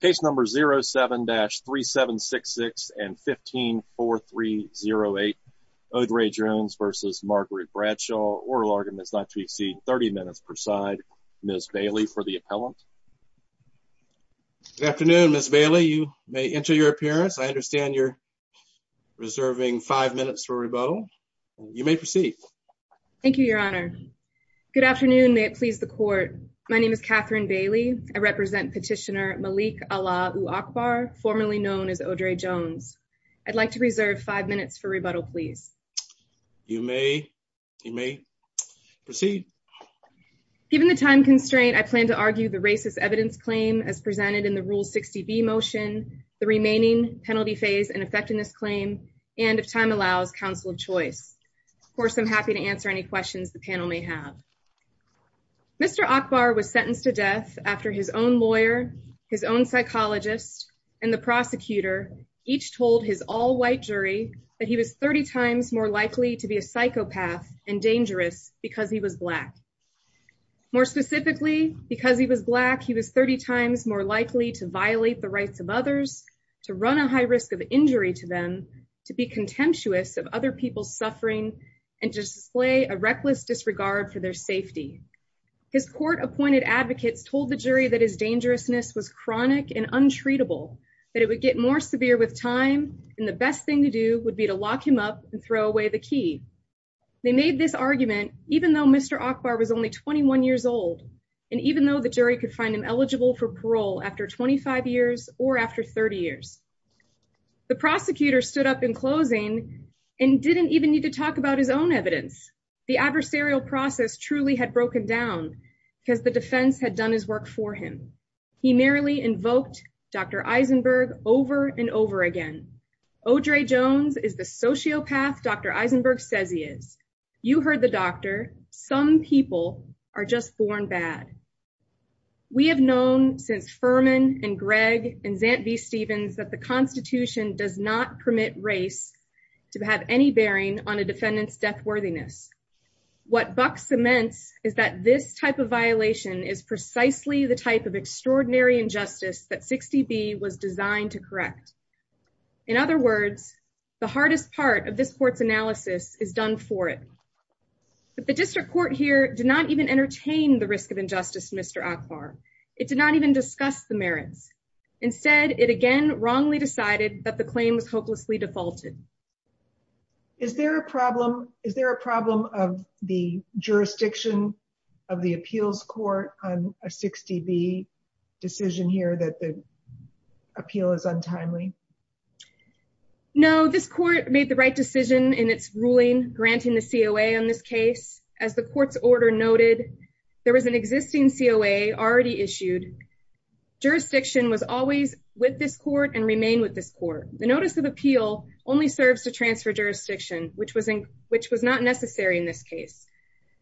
Case number 07-3766 and 15-4308. Odraye Jones versus Margaret Bradshaw. Oral argument is not to exceed 30 minutes per side. Ms. Bailey for the appellant. Good afternoon, Ms. Bailey. You may enter your appearance. I understand you're reserving five minutes for rebuttal. You may proceed. Thank you, your honor. Good afternoon. May it please the court. My name is Catherine Bailey. I represent Petitioner Malik Alaa-U-Akbar, formerly known as Odraye Jones. I'd like to reserve five minutes for rebuttal, please. You may proceed. Given the time constraint, I plan to argue the racist evidence claim as presented in the Rule 60B motion, the remaining penalty phase in effecting this claim, and if time allows, counsel of choice. Of course, I'm happy to answer any questions the panel may have. Mr. Akbar was sentenced to death after his own lawyer, his own psychologist, and the prosecutor each told his all-white jury that he was 30 times more likely to be a psychopath and dangerous because he was Black. More specifically, because he was Black, he was 30 times more likely to violate the rights of others, to run a high risk of injury to them, to be contemptuous of other suffering, and to display a reckless disregard for their safety. His court-appointed advocates told the jury that his dangerousness was chronic and untreatable, that it would get more severe with time, and the best thing to do would be to lock him up and throw away the key. They made this argument even though Mr. Akbar was only 21 years old, and even though the jury could find him eligible for parole after 25 years or after 30 years. The prosecutor stood up in need to talk about his own evidence. The adversarial process truly had broken down because the defense had done his work for him. He merely invoked Dr. Eisenberg over and over again. Audre Jones is the sociopath Dr. Eisenberg says he is. You heard the doctor. Some people are just born bad. We have known since Furman and Gregg and Zant v. Stevens that the Constitution does not permit race to have any bearing on a defendant's death worthiness. What Buck cements is that this type of violation is precisely the type of extraordinary injustice that 60B was designed to correct. In other words, the hardest part of this court's analysis is done for it. But the district court here did not even entertain the risk of injustice, Mr. Akbar. It did not even discuss the merits. Instead, it again wrongly decided that the claim was hopelessly defaulted. Is there a problem? Is there a problem of the jurisdiction of the appeals court on a 60B decision here that the appeal is untimely? No, this court made the right decision in its ruling granting the COA on this case. As the court's order noted, there was an existing COA already issued. Jurisdiction was always with this court and remain with this court. The notice of appeal only serves to transfer jurisdiction, which was not necessary in this case.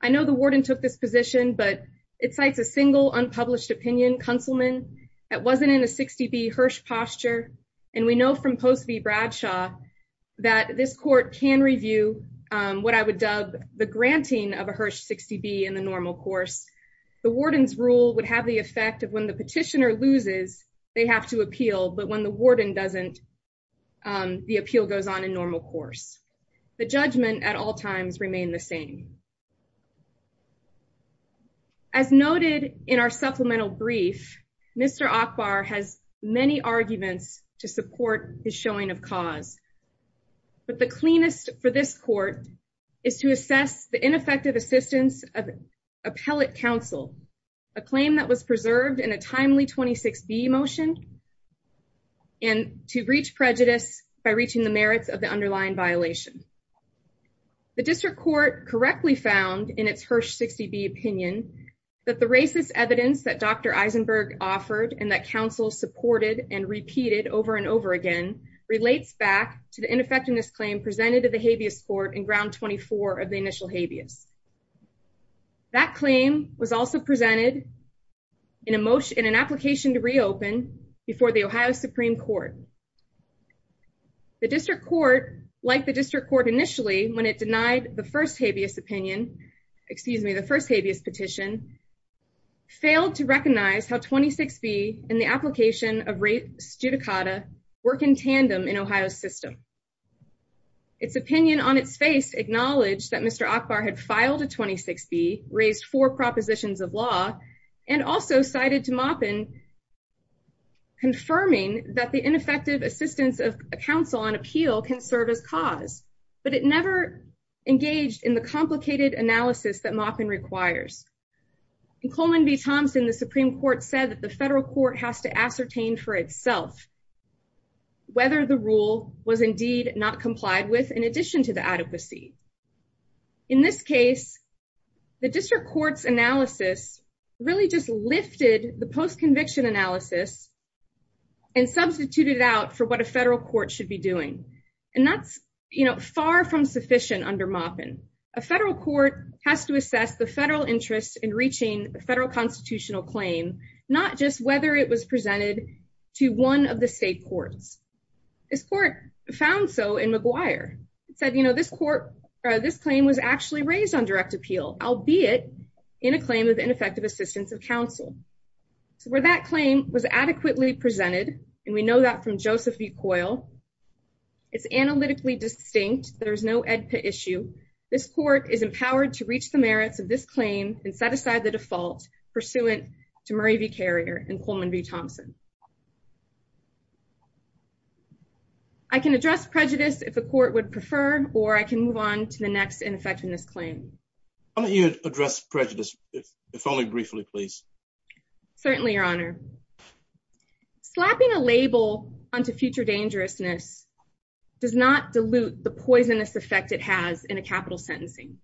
I know the warden took this position, but it cites a single unpublished opinion councilman that wasn't in a 60B Hirsch posture. And we know from Post v. Bradshaw that this court can review what I would dub the granting of a Hirsch 60B in the normal course. The warden's rule would have the effect of when the petitioner loses, they have to appeal. But when the warden doesn't, the appeal goes on in normal course. The judgment at all times remain the same. As noted in our supplemental brief, Mr. Akbar has many arguments to support his showing of cause. But the cleanest for this court is to assess the ineffective assistance of appellate counsel, a claim that was preserved in a timely 26B motion, and to reach prejudice by reaching the merits of the underlying violation. The district court correctly found in its Hirsch 60B opinion that the racist evidence that Dr. Back to the ineffectiveness claim presented to the habeas court in ground 24 of the initial habeas. That claim was also presented in an application to reopen before the Ohio Supreme Court. The district court, like the district court initially, when it denied the first habeas opinion, excuse me, the first habeas petition, failed to recognize how 26B and the application of rape studicata work in tandem in Ohio's system. Its opinion on its face acknowledged that Mr. Akbar had filed a 26B, raised four propositions of law, and also cited to Maupin confirming that the ineffective assistance of counsel on appeal can serve as cause, but it never engaged in the complicated analysis that Maupin requires. In Coleman v. Thompson, the Supreme Court said that the federal court has to ascertain for itself whether the rule was indeed not complied with in addition to the adequacy. In this case, the district court's analysis really just lifted the post-conviction analysis and substituted it out for what a federal court should be doing, and that's, you know, reaching a federal constitutional claim, not just whether it was presented to one of the state courts. This court found so in McGuire. It said, you know, this court, this claim was actually raised on direct appeal, albeit in a claim of ineffective assistance of counsel. So where that claim was adequately presented, and we know that from Joseph B. Coyle, it's analytically distinct, there's no EDPA issue. This court is empowered to reach the merits of this claim and set aside the default pursuant to Murray v. Carrier and Coleman v. Thompson. I can address prejudice if the court would prefer, or I can move on to the next ineffectiveness claim. Why don't you address prejudice, if only briefly, please? Certainly, your honor. Slapping a label onto future dangerousness does not dilute the poisonous effect it has in a capital sentencing.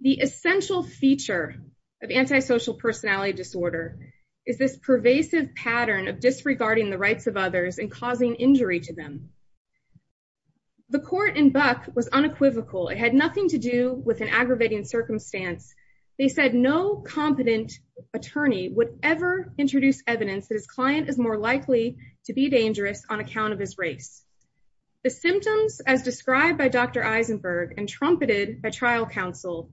The essential feature of antisocial personality disorder is this pervasive pattern of disregarding the rights of others and causing injury to them. The court in Buck was unequivocal. It had nothing to do with an aggravating circumstance. They said no competent attorney would ever introduce evidence that his client is more dangerous than he is. The court in Buck, which was tried by Dr. Eisenberg and trumpeted by trial counsel,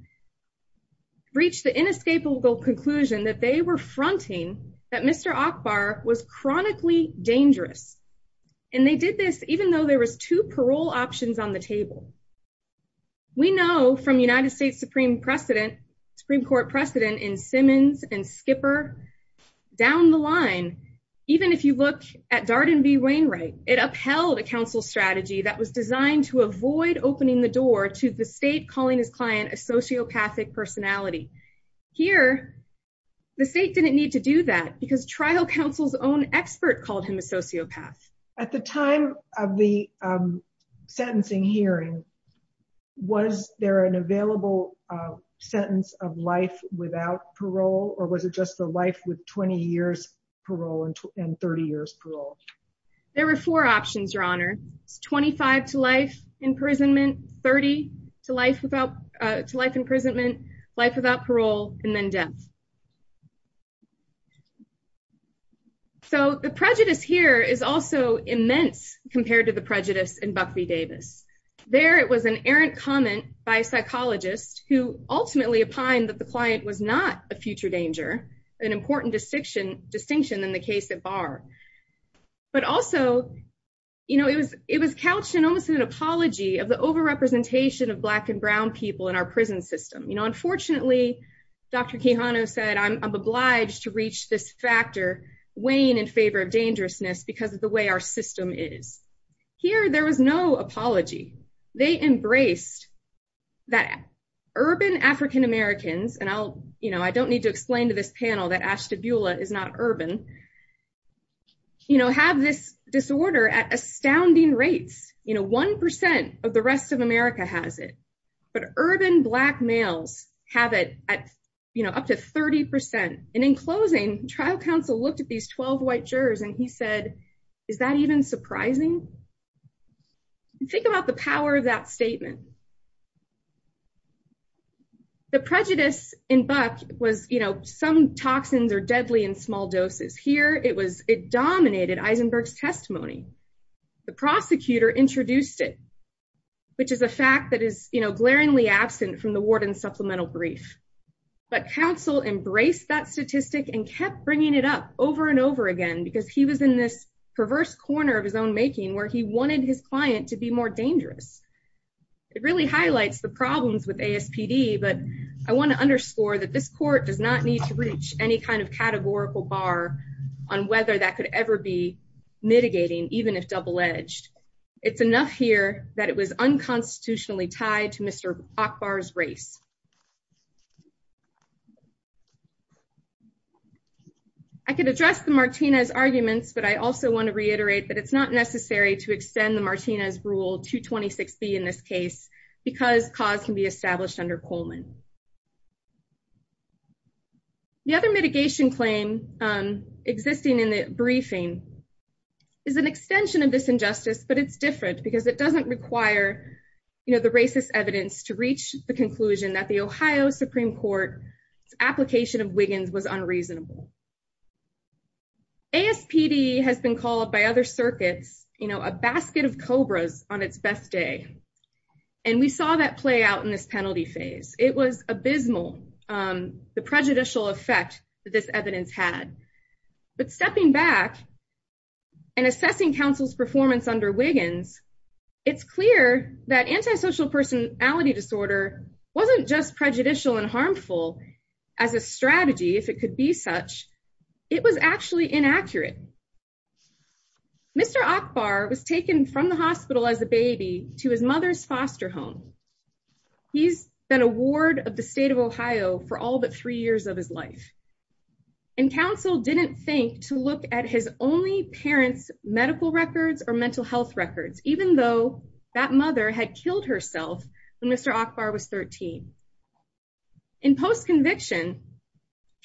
reached the inescapable conclusion that they were fronting that Mr. Ackbar was chronically dangerous. And they did this even though there was two parole options on the table. We know from United States Supreme Court precedent in Simmons and Skipper, down the line, even if you look at Darden v. Wainwright, it upheld a counsel strategy that was designed to avoid opening the door to the state calling his client a sociopathic personality. Here, the state didn't need to do that because trial counsel's own expert called him a sociopath. At the time of the sentencing hearing, was there an available sentence of life without parole, or was it just the life with 20 years parole and 30 years parole? There were four options, your honor. It's 25 to life imprisonment, 30 to life without life imprisonment, life without parole, and then death. So the prejudice here is also immense compared to the prejudice in Buck v. Davis. There it was an errant comment by a psychologist who ultimately opined that the client was not a future danger, an important distinction in the case at bar. But also, it was couched in almost an apology of the overrepresentation of black and brown people in our prison system. Unfortunately, Dr. Kehano said, I'm obliged to reach this factor weighing in favor of dangerousness because of the way our system is. Here, there was no apology. They embraced that urban African Americans, and I don't need to panel that Ashtabula is not urban, have this disorder at astounding rates. One percent of the rest of America has it, but urban black males have it at up to 30 percent. In closing, trial counsel looked at these 12 white jurors and he said, is that even surprising? Think about the power of that statement. The prejudice in Buck was, you know, some toxins are deadly in small doses. Here, it was, it dominated Eisenberg's testimony. The prosecutor introduced it, which is a fact that is, you know, glaringly absent from the warden's supplemental brief. But counsel embraced that statistic and kept bringing it up over and over again because he was in this perverse corner of his own making where he wanted his client to be more dangerous. It really highlights the problems with ASPD, but I want to underscore that this court does not need to reach any kind of categorical bar on whether that could ever be mitigating, even if double edged. It's enough here that it was unconstitutionally tied to Mr. Akbar's race. I can address the Martinez arguments, but I also want to reiterate that it's not necessary to extend the Martinez rule 226B in this case because cause can be established under Coleman. The other mitigation claim existing in the briefing is an extension of this injustice, but it's different because it doesn't require, you know, the racist evidence to reach the Ohio Supreme Court's application of Wiggins was unreasonable. ASPD has been called by other circuits, you know, a basket of cobras on its best day. And we saw that play out in this penalty phase. It was abysmal, the prejudicial effect that this evidence had. But stepping back and assessing counsel's performance under Wiggins, it's clear that antisocial personality disorder wasn't just prejudicial and harmful as a strategy, if it could be such, it was actually inaccurate. Mr. Akbar was taken from the hospital as a baby to his mother's foster home. He's been a ward of the state of Ohio for all but three years of his life. And counsel didn't think to look at his only parents' medical records or mental health records, even though that mother had killed herself when Mr. Akbar was 13. In post-conviction,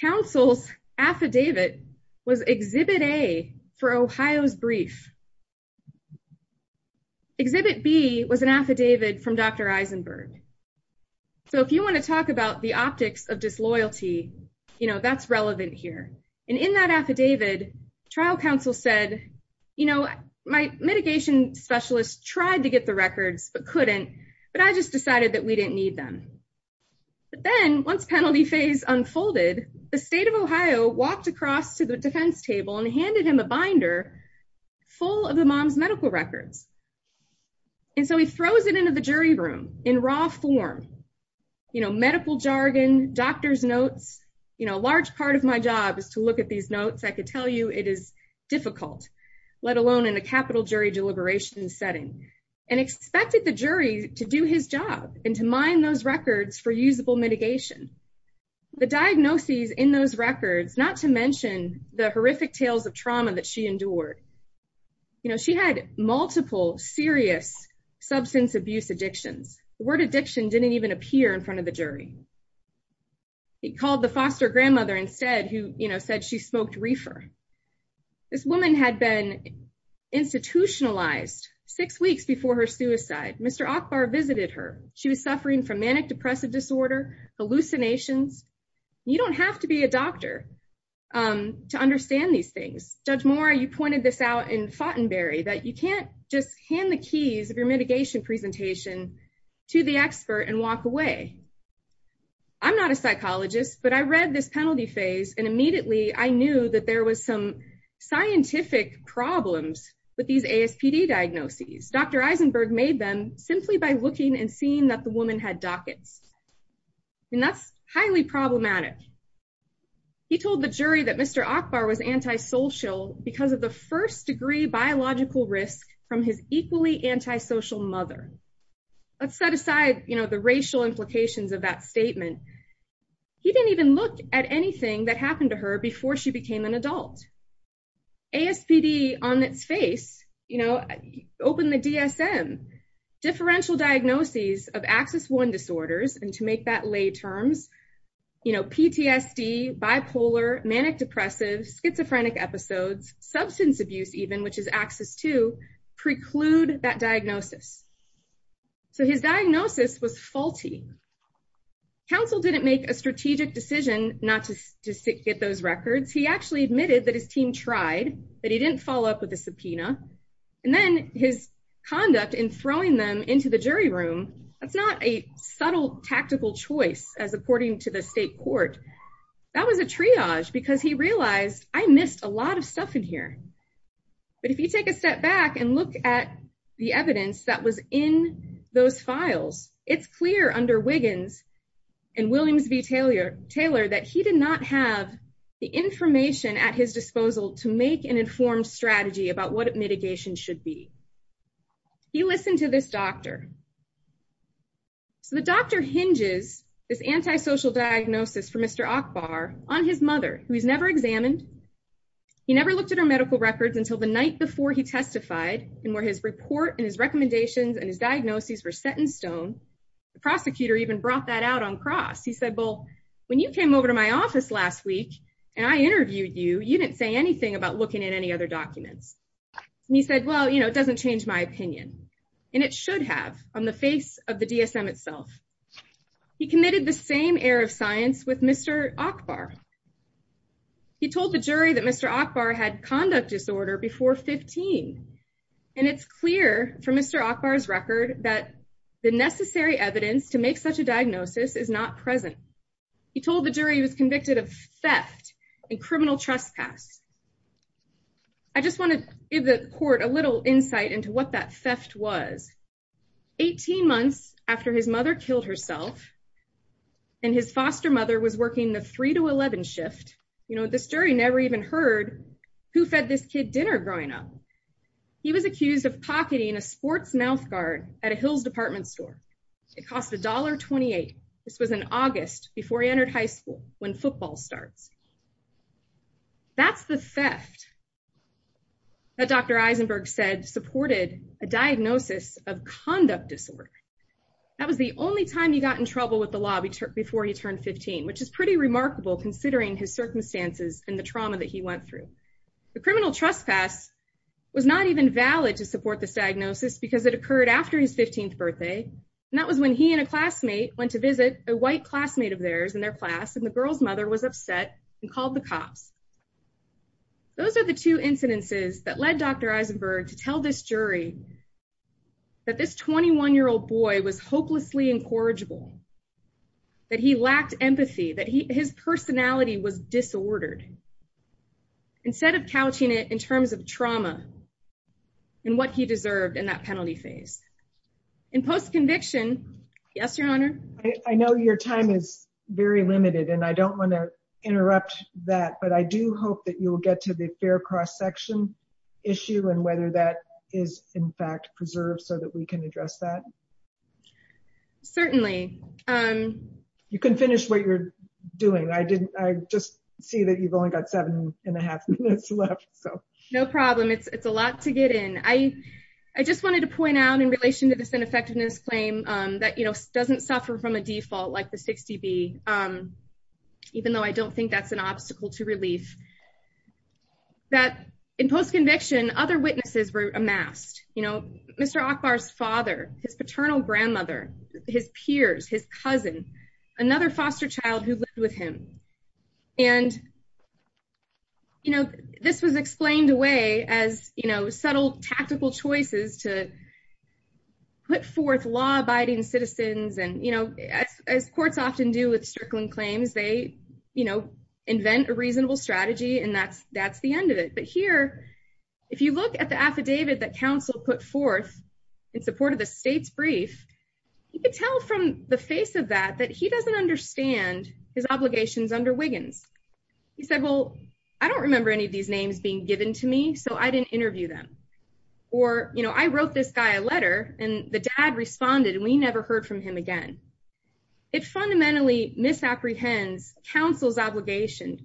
counsel's affidavit was Exhibit A for Ohio's brief. Exhibit B was an affidavit from Dr. Eisenberg. So, if you want to talk about the optics of disloyalty, you know, that's relevant here. And in that affidavit, trial counsel said, you know, my mitigation specialist tried to get the records, but couldn't, but I just decided that we didn't need them. But then, once penalty phase unfolded, the state of Ohio walked across to the defense table and handed him a binder full of the mom's medical records. And so, he throws it into the jury room in raw form. You know, medical jargon, doctor's notes, you know, a large part of my job is to look these notes. I could tell you it is difficult, let alone in a capital jury deliberation setting. And expected the jury to do his job and to mine those records for usable mitigation. The diagnoses in those records, not to mention the horrific tales of trauma that she endured, you know, she had multiple serious substance abuse addictions. The word addiction didn't even appear in front of the jury. He called the foster grandmother instead, who, you know, she smoked reefer. This woman had been institutionalized six weeks before her suicide. Mr. Akbar visited her. She was suffering from manic depressive disorder, hallucinations. You don't have to be a doctor to understand these things. Judge Moore, you pointed this out in Foughtenberry, that you can't just hand the keys of your mitigation presentation to the expert and walk away. I'm not a psychologist, but I read this penalty phase and immediately I knew that there was some scientific problems with these ASPD diagnoses. Dr. Eisenberg made them simply by looking and seeing that the woman had dockets. And that's highly problematic. He told the jury that Mr. Akbar was antisocial because of the first degree biological risk from his equally antisocial mother. Let's set aside, you know, the racial implications of that statement. He didn't even look at anything that happened to her before she became an adult. ASPD on its face, you know, opened the DSM. Differential diagnoses of Axis 1 disorders, and to make that lay terms, you know, PTSD, bipolar, manic depressive, schizophrenic episodes, substance abuse even, which is Axis 2, preclude that diagnosis. So his diagnosis was faulty. Counsel didn't make a strategic decision not to get those records. He actually admitted that his team tried, but he didn't follow up with a subpoena. And then his conduct in throwing them into the jury room, that's not a subtle tactical choice as according to the state court. That was a triage because he realized, I missed a lot of stuff in here. But if you take a step back and look at the evidence that was in those files, it's clear under Wiggins and Williams v. Taylor that he did not have the information at his disposal to make an informed strategy about what mitigation should be. He listened to this doctor. So the doctor hinges this antisocial diagnosis for Mr. Akbar on his mother, who he's never examined. He never looked at her medical records until the night before he testified, and where his report and his recommendations and his diagnoses were set in stone. The prosecutor even brought that out on cross. He said, well, when you came over to my office last week, and I interviewed you, you didn't say anything about looking at any other documents. And he said, well, it doesn't change my opinion. And it should have on the face of the DSM itself. He committed the same air of science with Mr. Akbar. He told the jury that Mr. Akbar had been diagnosed before 15. And it's clear from Mr. Akbar's record that the necessary evidence to make such a diagnosis is not present. He told the jury he was convicted of theft and criminal trespass. I just want to give the court a little insight into what that theft was. 18 months after his mother killed herself, and his foster mother was working the 3 to 11 shift, you know, this jury never even heard who fed this kid dinner growing up. He was accused of pocketing a sports mouth guard at a Hills department store. It cost $1.28. This was in August before he entered high school when football starts. That's the theft that Dr. Eisenberg said supported a diagnosis of conduct disorder. That was the only time he got in trouble with the law before he turned 15, which is pretty the trauma that he went through. The criminal trespass was not even valid to support this diagnosis because it occurred after his 15th birthday. And that was when he and a classmate went to visit a white classmate of theirs in their class. And the girl's mother was upset and called the cops. Those are the two incidences that led Dr. Eisenberg to tell this jury that this 21-year-old boy was hopelessly incorrigible. That he lacked empathy, that his personality was disordered. Instead of couching it in terms of trauma and what he deserved in that penalty phase. In post-conviction, yes, Your Honor? I know your time is very limited and I don't want to interrupt that, but I do hope that you will get to the fair cross-section issue and whether that is in fact preserved so that we can address that. Certainly. You can finish what you're doing. I just see that you've only got seven and a half minutes left. No problem. It's a lot to get in. I just wanted to point out in relation to this ineffectiveness claim that doesn't suffer from a default like the 60B, even though I don't think that's an obstacle to relief. That in post-conviction, other witnesses were amassed. Mr. Ackbar's father, his paternal grandmother, his peers, his cousin, another foster child who lived with him. This was explained away as subtle tactical choices to put forth law-abiding citizens. As courts often do with circling claims, they invent a reasonable strategy and that's the end of it. But here, if you look at the affidavit that counsel put forth in support of the state's brief, you could tell from the face of that that he doesn't understand his obligations under Wiggins. He said, well, I don't remember any of these names being given to me, so I didn't interview them. Or, you know, I wrote this guy a letter and the dad responded and we never heard from him again. It fundamentally misapprehends counsel's obligation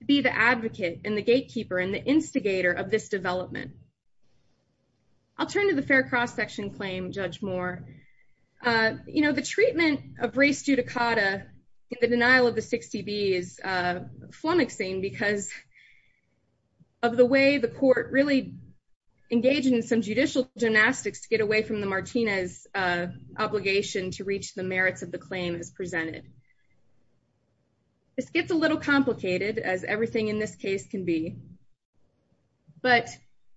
to be the advocate and the gatekeeper and the instigator of this development. I'll turn to the fair cross-section claim, Judge Moore. You know, the treatment of race judicata in the denial of the 60B is flummoxing because of the way the court really engaged in some judicial gymnastics to get away from the Martinez obligation to reach the merits of the claim as presented. This gets a little complicated, as everything in this case can be, but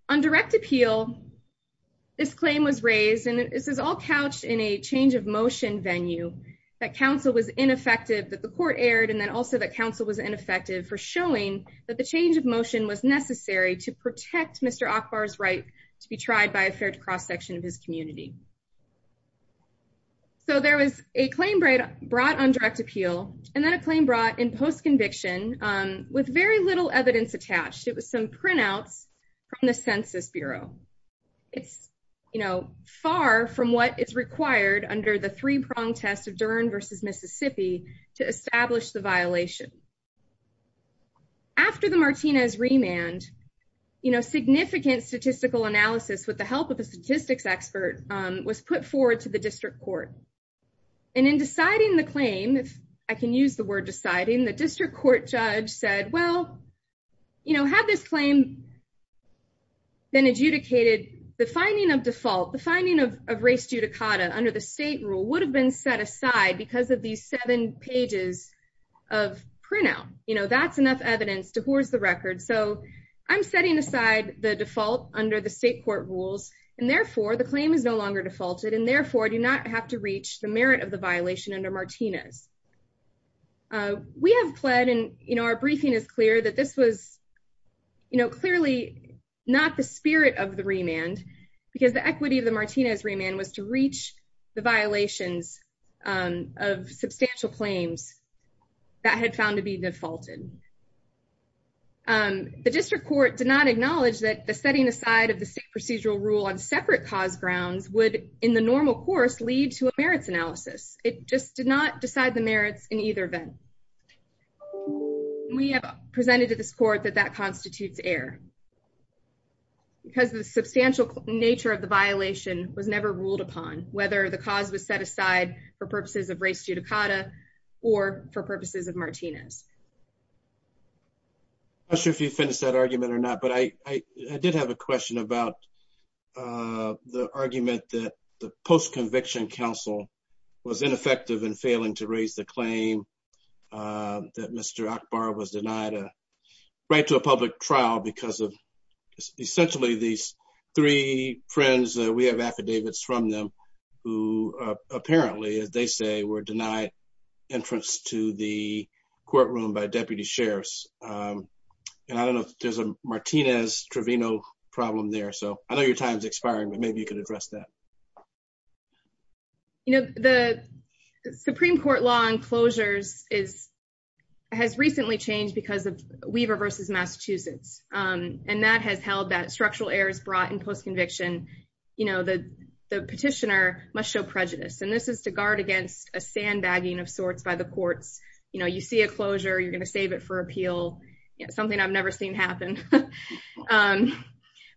on direct appeal, this claim was raised and this is all couched in a change of motion venue that counsel was ineffective, that the court erred, and then also that counsel was ineffective for showing that the change of motion was necessary to protect Mr. Ackbar's right to be tried by a fair cross-section of his community. So there was a claim brought on direct appeal and then a claim brought in post-conviction with very little evidence attached. It was some printouts from the Census Bureau. It's, you know, far from what is required under the three-prong test of Dern v. Mississippi to establish the violation. After the Martinez remand, you know, significant statistical analysis with the help of a statistics expert was put forward to the district court. And in deciding the claim, if I can use the word deciding, the district court judge said, well, you know, had this claim been adjudicated, the finding of default, the finding of race judicata under the state rule would have been set aside because of these seven pages of printout. You know, that's enough evidence to I'm setting aside the default under the state court rules and therefore the claim is no longer defaulted and therefore do not have to reach the merit of the violation under Martinez. We have pled and, you know, our briefing is clear that this was, you know, clearly not the spirit of the remand because the equity of the Martinez remand was to reach the violations of substantial claims that had found to be defaulted. The district court did not acknowledge that the setting aside of the state procedural rule on separate cause grounds would, in the normal course, lead to a merits analysis. It just did not decide the merits in either event. We have presented to this court that that constitutes error because the substantial nature of the violation was never ruled upon, whether the cause was set aside for purposes of race judicata or for purposes of Martinez. I'm not sure if you finished that argument or not, but I did have a question about the argument that the post-conviction counsel was ineffective in failing to raise the claim that Mr. Akbar was denied a right to a public trial because of denied entrance to the courtroom by deputy sheriffs. And I don't know if there's a Martinez-Trevino problem there, so I know your time's expiring, but maybe you could address that. You know, the Supreme Court law on closures has recently changed because of Weaver versus Massachusetts, and that has held that structural errors brought in post-conviction, you know, the petitioner must show prejudice, and this is to guard against a sandbagging of sorts by the courts. You know, you see a closure, you're going to save it for appeal, you know, something I've never seen happen.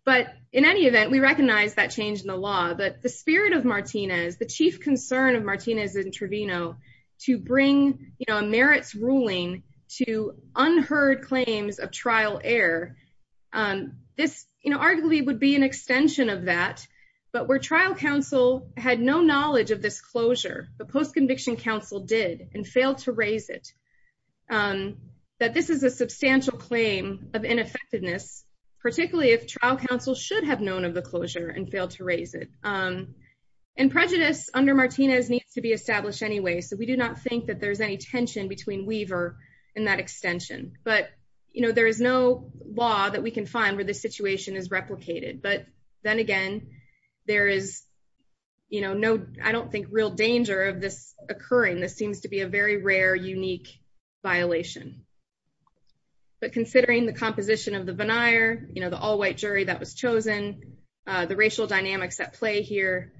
But in any event, we recognize that change in the law, but the spirit of Martinez, the chief concern of Martinez and Trevino to bring, you know, a merits ruling to unheard claims of that. But where trial counsel had no knowledge of this closure, the post-conviction counsel did and failed to raise it, that this is a substantial claim of ineffectiveness, particularly if trial counsel should have known of the closure and failed to raise it. And prejudice under Martinez needs to be established anyway, so we do not think that there's any tension between Weaver and that extension. But, you know, there is no law that we can find where this situation is replicated. But then again, there is, you know, no, I don't think real danger of this occurring. This seems to be a very rare, unique violation. But considering the composition of the veneer, you know, the all-white jury that was chosen, the racial dynamics at play here,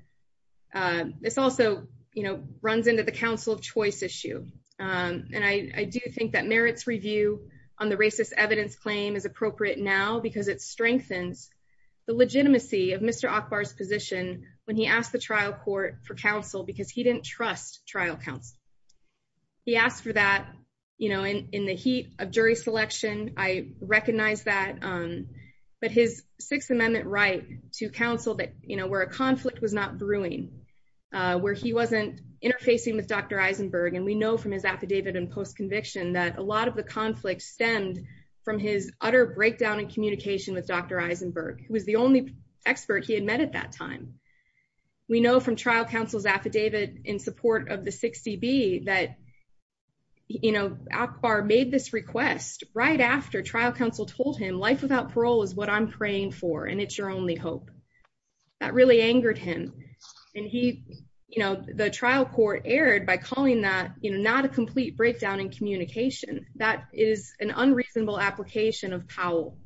this also, you know, runs into the counsel of choice issue. And I do think that merits review on the racist evidence claim is appropriate now because it strengthens the legitimacy of Mr. Ackbar's position when he asked the trial court for counsel because he didn't trust trial counsel. He asked for that, you know, in the heat of jury selection, I recognize that. But his Sixth Amendment right to counsel that, you know, where a conflict was not brewing, where he wasn't interfacing with Dr. Eisenberg, and we know from his affidavit and post-conviction that a lot of the conflict stemmed from his utter breakdown in communication with Dr. Eisenberg, who was the only expert he had met at that time. We know from trial counsel's affidavit in support of the 60B that, you know, Ackbar made this request right after trial counsel told him, life without parole is what I'm praying for, and it's your only hope. That really angered him. And he, you know, the trial court erred by calling that, you know, not a complete breakdown in communication. That is an unreasonable application of Powell.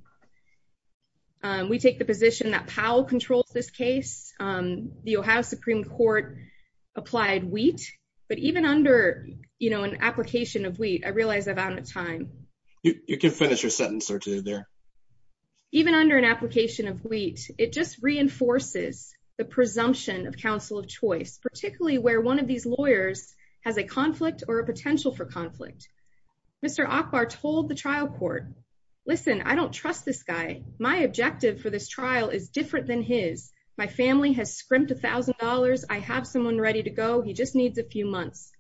We take the position that Powell controls this case. The Ohio Supreme Court applied wheat, but even under, you know, an application of wheat, I realize I'm out of time. You can finish your sentence or two there. Even under an application of wheat, it just reinforces the presumption of counsel of choice, particularly where one of these lawyers has a conflict or a potential for conflict. Mr. Ackbar told the trial court, listen, I don't trust this guy. My objective for this trial is different than his. My family has scrimped a thousand dollars. I have someone ready to go. He just needs a few months.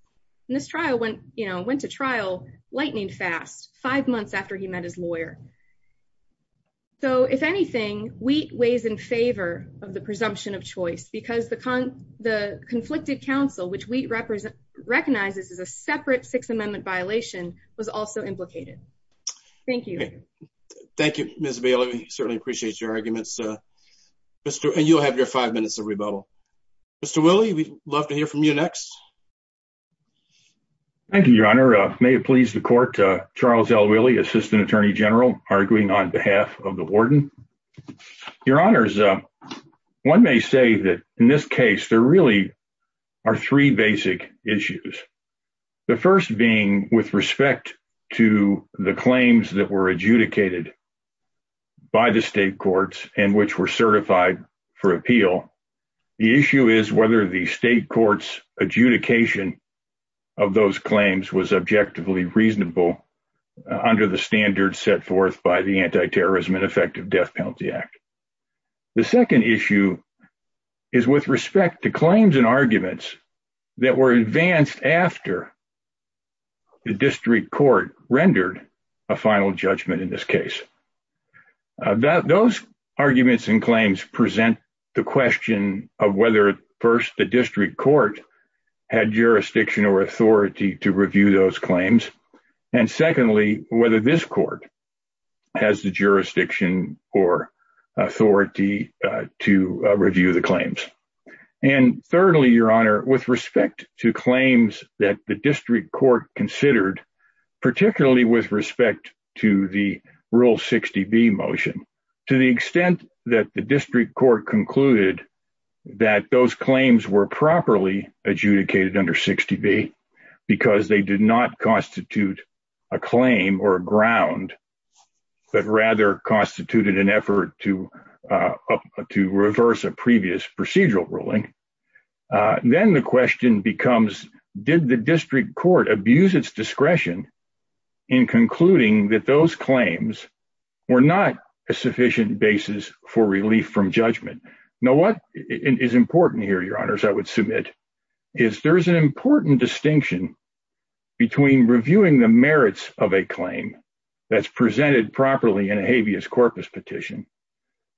And this trial went, you know, went to trial lightning fast, five months after he met his lawyer. So if anything, wheat weighs in favor of the presumption of choice because the conflicted counsel, which wheat recognizes as a separate Sixth Amendment violation, was also implicated. Thank you. Thank you, Ms. Bailey. We certainly appreciate your arguments. And you'll have your five minutes of rebuttal. Mr. Willie, we'd love to hear from you next. Thank you, Your Honor. May it please the court, Charles L. Willie, Assistant Attorney General, arguing on behalf of the warden. Your Honors, one may say that in this case, there really are three basic issues. The first being with respect to the claims that were adjudicated by the state courts and which were certified for appeal. The issue is whether the state courts adjudication of those claims was objectively reasonable under the standards set forth by the Anti-Terrorism and Effective Death Penalty Act. The second issue is with respect to claims and arguments that were advanced after the district court rendered a final judgment in this case. That those arguments and claims present the question of whether, first, the district court had jurisdiction or authority to review those claims. And secondly, whether this court has the jurisdiction or authority to review the claims. And thirdly, Your Honor, with respect to claims that the district court considered, particularly with respect to the Rule 60B motion, to the extent that the district court concluded that those claims were properly adjudicated under 60B because they did not constitute a claim or a ground, but rather constituted an effort to reverse a previous procedural ruling, then the question becomes, did the district court abuse its discretion in concluding that those claims were not a sufficient basis for relief from judgment? Now, what is important here, Your Honors, I would submit, is there is an important distinction between reviewing the merits of a claim that's presented properly in a habeas corpus petition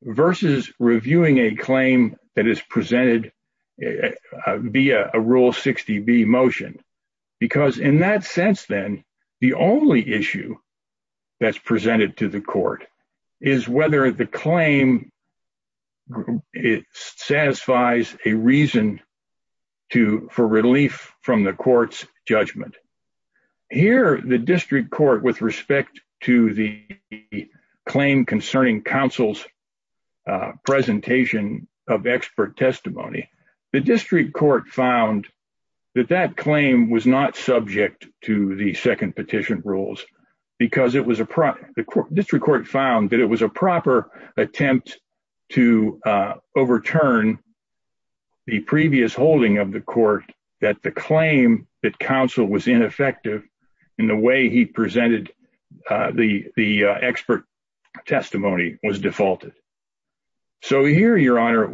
versus reviewing a claim that is presented via a Rule 60B motion. Because in that sense, then, the only issue that's presented to the court is whether the claim satisfies a reason for relief from the court's judgment. Here, the district court, with respect to the claim concerning counsel's presentation of expert testimony, the district court found that that claim was not subject to the second petition rules because it was a proper, the district court found that it was a proper attempt to overturn the previous holding of the testimony was defaulted. So here, Your Honor,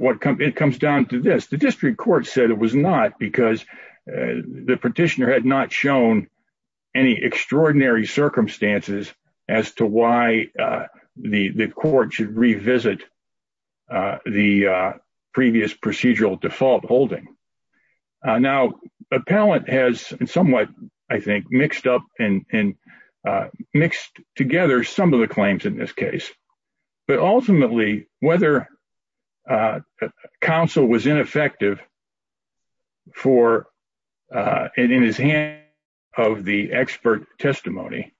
it comes down to this. The district court said it was not because the petitioner had not shown any extraordinary circumstances as to why the court should revisit the previous procedural default holding. Now, appellate has somewhat, I think, mixed up and mixed together some of the claims in this case. But ultimately, whether counsel was ineffective in his hand of the expert testimony,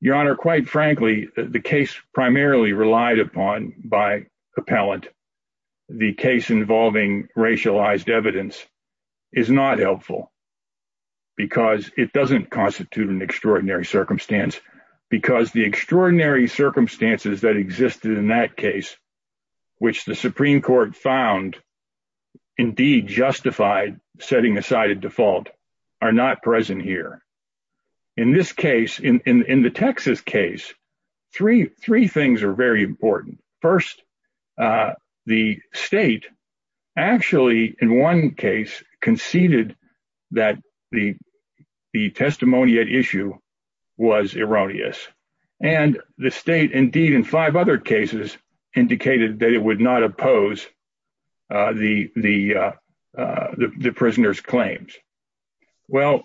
Your Honor, quite frankly, the case primarily relied upon by appellate, the case involving racialized evidence, is not helpful because it doesn't constitute an extraordinary circumstance, because the extraordinary circumstances that existed in that case, which the Supreme Court found indeed justified setting aside a default, are not present here. In this case, in the Texas case, three things are very important. First, the state actually, in one case, conceded that the testimony at issue was erroneous. And the state, indeed, in five other cases, indicated that it would not oppose the prisoner's claims. Well,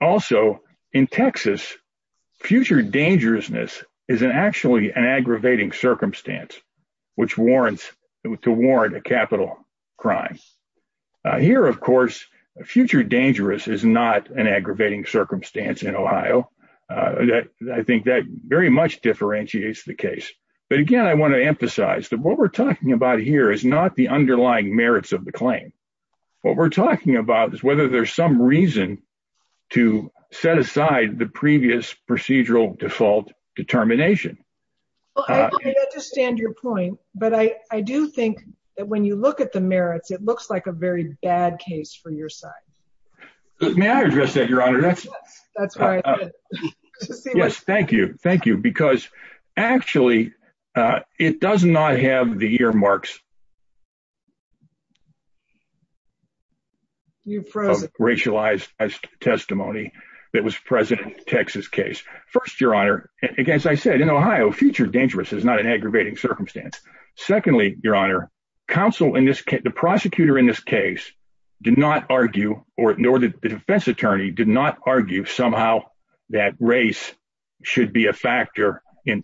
also, in Texas, future dangerousness is actually an aggravating circumstance, which warrants a capital crime. Here, of course, future dangerous is not an aggravating circumstance in Ohio. I think that very much differentiates the case. But again, I want to emphasize that what we're talking about here is not the underlying merits of the claim. What we're talking about is whether there's some reason to set aside the previous procedural default determination. I understand your point, but I do think that when you look at the merits, it looks like a very bad case for your side. May I address that, Your Honor? Yes, thank you. Thank you. Because actually, it does not have the earmarks of racialized testimony that was present in the Texas case. First, Your Honor, as I said, in Ohio, future dangerous is not an aggravating circumstance. Secondly, Your Honor, the prosecutor in this case did not argue, nor the defense attorney, did not argue somehow that race should be a factor in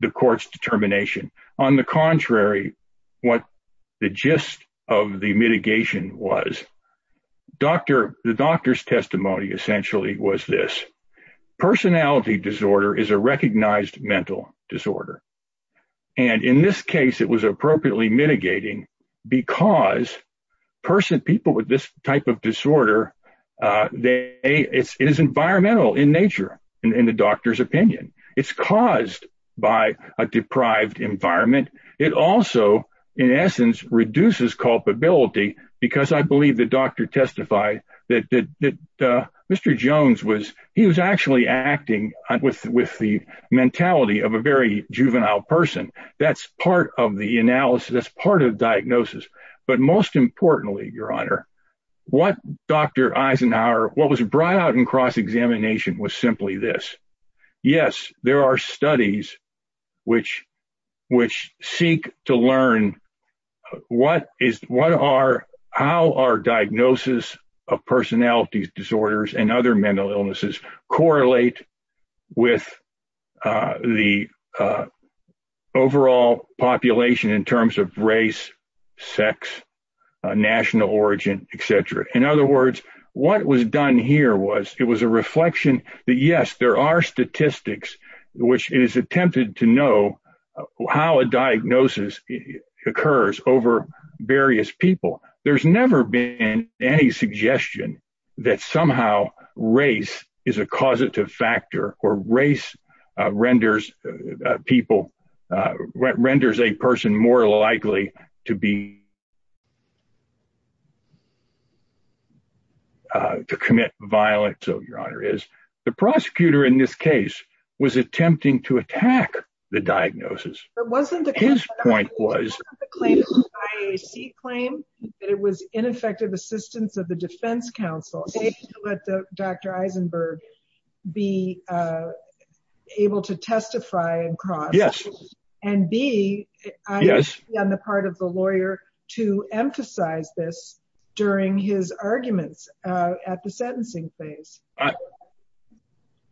the court's determination. On the contrary, what the gist of the mitigation was, the doctor's testimony essentially was this. Personality disorder is a recognized mental disorder. In this case, it was appropriately mitigating because people with this type of disorder, it is environmental in nature, in the doctor's opinion. It's caused by a deprived environment. It also, in essence, reduces culpability because I believe the doctor testified that Mr. Jones, he was actually acting with the mentality of a very juvenile person. That's part of the analysis. That's part of the diagnosis. Most importantly, Your Honor, what Dr. Eisenhower, what was brought out in cross-examination was simply this. Yes, there are studies which seek to learn how our diagnosis of personality disorders and other mental illnesses correlate with the overall population in terms of race, sex, national which is attempted to know how a diagnosis occurs over various people. There's never been any suggestion that somehow race is a causative factor or race renders a person more likely to be to commit violence. Your Honor, the prosecutor in this case was attempting to attack the diagnosis. His point was that it was ineffective assistance of the defense counsel. Let Dr. Eisenberg be able to testify in cross-examination and be on the part of the lawyer to emphasize this during his arguments at the sentencing phase.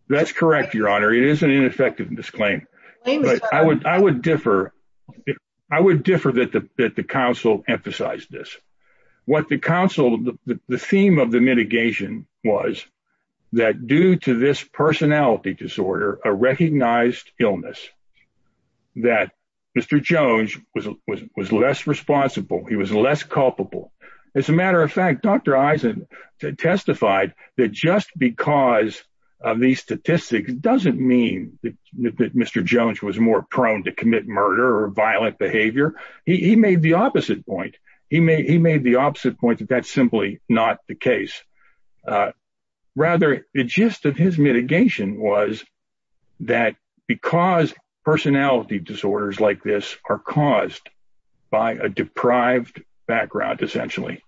That's correct, Your Honor. It is an ineffectiveness claim. I would differ that the counsel emphasized this. What the counsel, the theme of the mitigation was that due to this personality disorder, a recognized illness, that Mr. Jones was less responsible. He was less culpable. As a matter of fact, Dr. Eisen testified that just because of these statistics doesn't mean that Mr. Jones was more prone to commit murder or violent behavior. He made the opposite point. He made the opposite point that that's simply not the case. Rather, the gist of his mitigation was that because personality disorders like this are caused by a deprived background, essentially,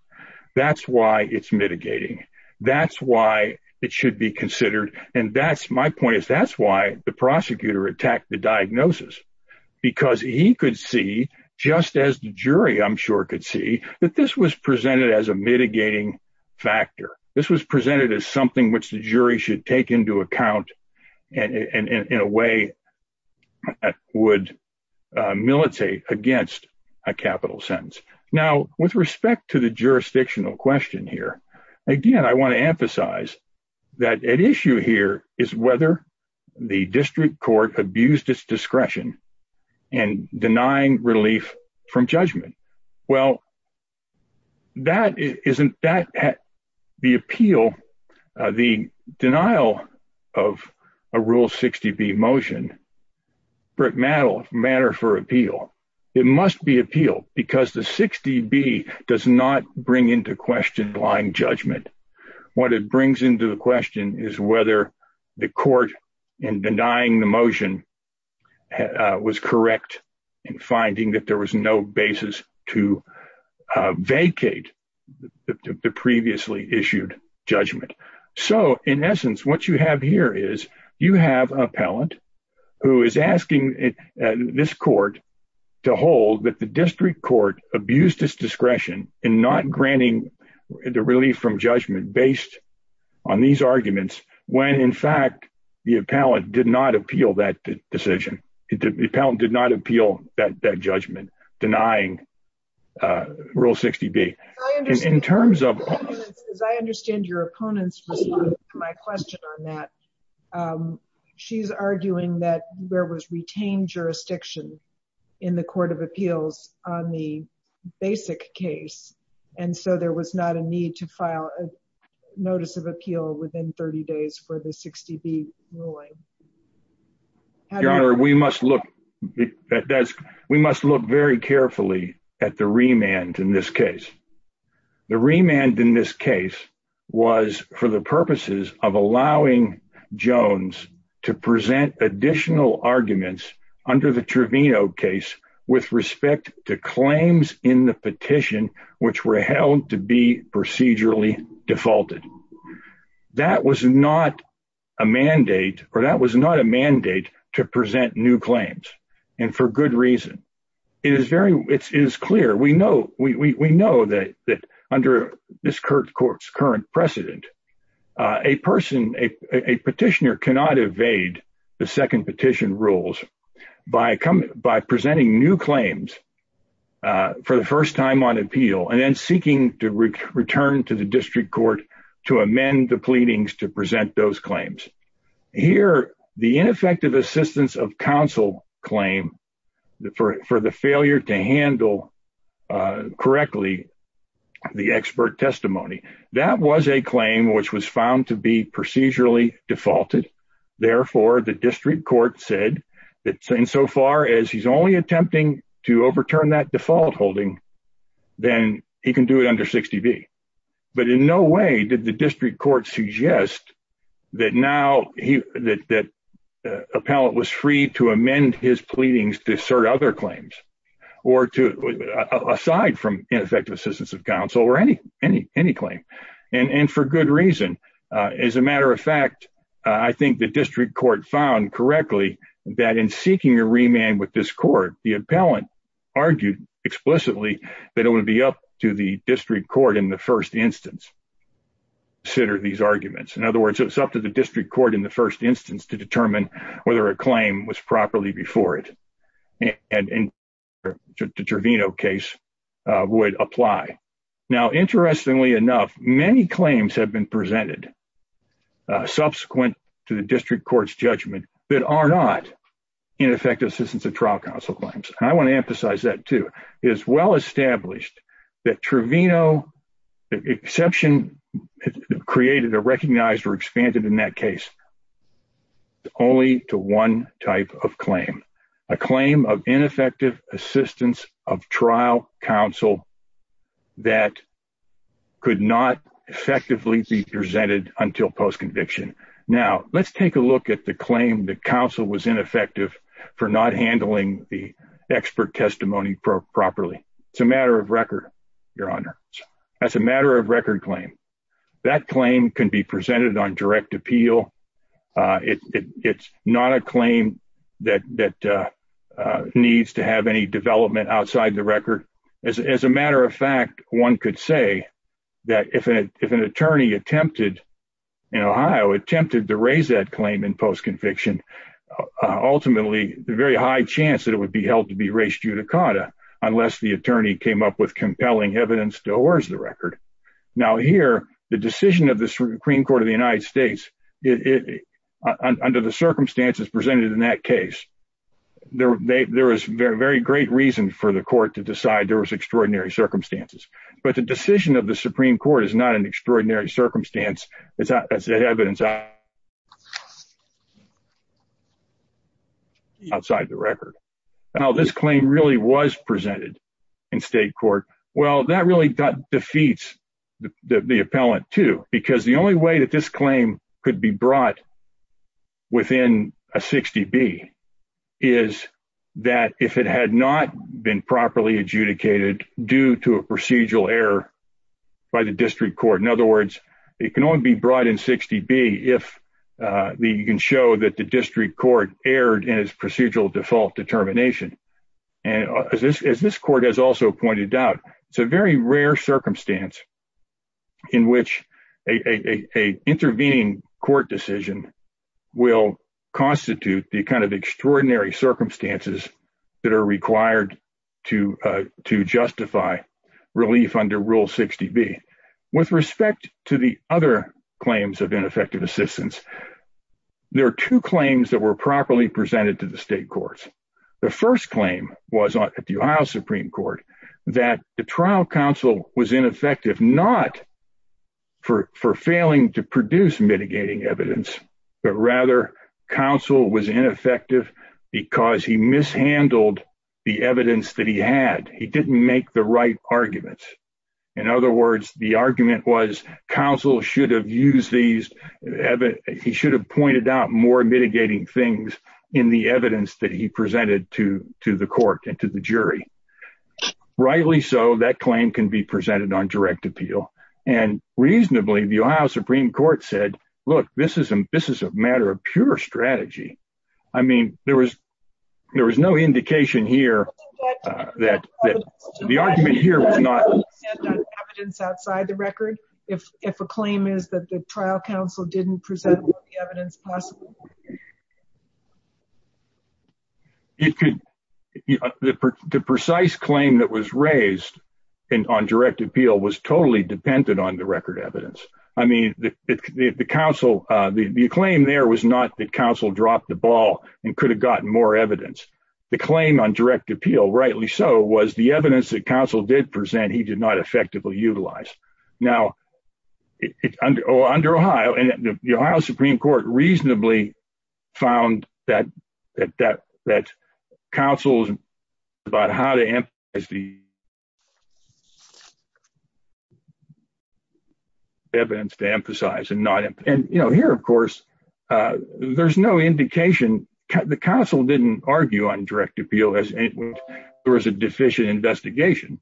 that's why it's mitigating. That's why it should be considered. My point is that's why the prosecutor attacked the diagnosis because he could see, just as the jury, I'm sure, could see that this was presented as a mitigating factor. This was presented as something which the jury should take into account and in a way would militate against a capital sentence. Now, with respect to the jurisdictional question here, again, I want to emphasize that at issue here is whether the district court abused its discretion in denying relief from judgment. Well, the appeal, the denial of a Rule 60B motion, Brick Maddowl, a matter for appeal, it must be appealed because the 60B does not bring into question blind judgment. What it brings into the question is whether the court in denying the was correct in finding that there was no basis to vacate the previously issued judgment. In essence, what you have here is you have appellant who is asking this court to hold that the district court abused its discretion in not granting the relief from judgment based on these arguments when, in fact, the appellant did not appeal that decision. The appellant did not appeal that judgment denying Rule 60B. In terms of... As I understand your opponent's response to my question on that, she's arguing that there was retained jurisdiction in the court of appeals on the basic case and so there was not a need to file notice of appeal within 30 days for the 60B ruling. Your Honor, we must look very carefully at the remand in this case. The remand in this case was for the purposes of allowing Jones to present additional arguments under the Trevino case with respect to claims in the petition which were held to be procedurally defaulted. That was not a mandate or that was not a mandate to present new claims and for good reason. It is very... It is clear. We know that under this court's current precedent, a person, a petitioner cannot evade the second petition rules by presenting new claims for the first time on appeal and then seeking to return to the district court to amend the pleadings to present those claims. Here, the ineffective assistance of counsel claim for the failure to handle correctly the expert testimony, that was a claim which was found to be procedurally defaulted. Therefore, the district court said that insofar as he's only attempting to overturn that default holding, then he can do it under 60B. But in no way did the district court suggest that now he... That appellant was free to amend his pleadings to assert other claims or to... Aside from ineffective assistance of counsel or any claim. And for good reason. As a matter of fact, I think the district court found correctly that in seeking a remand with this court, the appellant argued explicitly that it would be up to the district court in the first instance to consider these arguments. In other words, it was up to the district court in the first instance to determine whether a claim was properly before it. And in the Trevino case would apply. Now, interestingly enough, many claims have been presented subsequent to the district court's judgment that are not ineffective assistance of trial counsel claims. And I want to emphasize that too. It is well established that Trevino exception created or recognized or expanded in that case only to one type of claim. A claim of ineffective assistance of trial counsel that could not effectively be presented until post-conviction. Now, let's take a look at the claim that counsel was ineffective for not handling the expert testimony properly. It's a matter of record, Your Honor. That's a matter of record claim. That claim can be presented on direct appeal. It's not a claim that needs to have any development outside the record. As a matter of fact, one could say that if an attorney attempted in Ohio, attempted to raise that claim in post-conviction, ultimately the very high chance that it would be held to be res judicata unless the attorney came up with compelling evidence towards the record. Now here, the decision of the Supreme Court of the United States, under the circumstances presented in that case, there was very great reason for the court to decide there was extraordinary circumstances. But the decision of the Supreme Court is not an extraordinary circumstance. It's evidence outside the record. Now, this claim really was presented in state court. Well, that really defeats the appellant too, because the only way that this claim could be brought within a 60B is that if it had not been properly adjudicated due to a procedural error by the district court. In other words, it can only be brought in 60B if you can show that the district court erred in its procedural default determination. And as this court has also pointed out, it's a very rare circumstance in which a intervening court decision will constitute the kind of extraordinary circumstances that are required to justify relief under Rule 60B. With respect to the other claims of ineffective assistance, there are two claims that were properly presented to the state courts. The first claim was at the Ohio Supreme Court that the trial counsel was ineffective not for failing to produce mitigating evidence, but rather counsel was ineffective because he mishandled the evidence that he had. He didn't make the right arguments. In other words, the argument was counsel should have used these, he should have pointed out more mitigating things in the evidence that he presented to the court and to the jury. Rightly so, that claim can be presented on direct appeal. And reasonably, the Ohio Supreme Court said, look, this is a matter of pure strategy. I mean, there was no indication here that the argument here was not...... evidence outside the record, if a claim is that the trial counsel didn't present all the evidence possible. It could, the precise claim that was raised on direct appeal was totally dependent on the evidence. I mean, the counsel, the claim there was not that counsel dropped the ball and could have gotten more evidence. The claim on direct appeal, rightly so, was the evidence that counsel did present, he did not effectively utilize. Now, under Ohio, and the Ohio Supreme Court reasonably found that counsel's about how to emphasize the...... evidence to emphasize and not... And, you know, here, of course, there's no indication, the counsel didn't argue on direct appeal as there was a deficient investigation.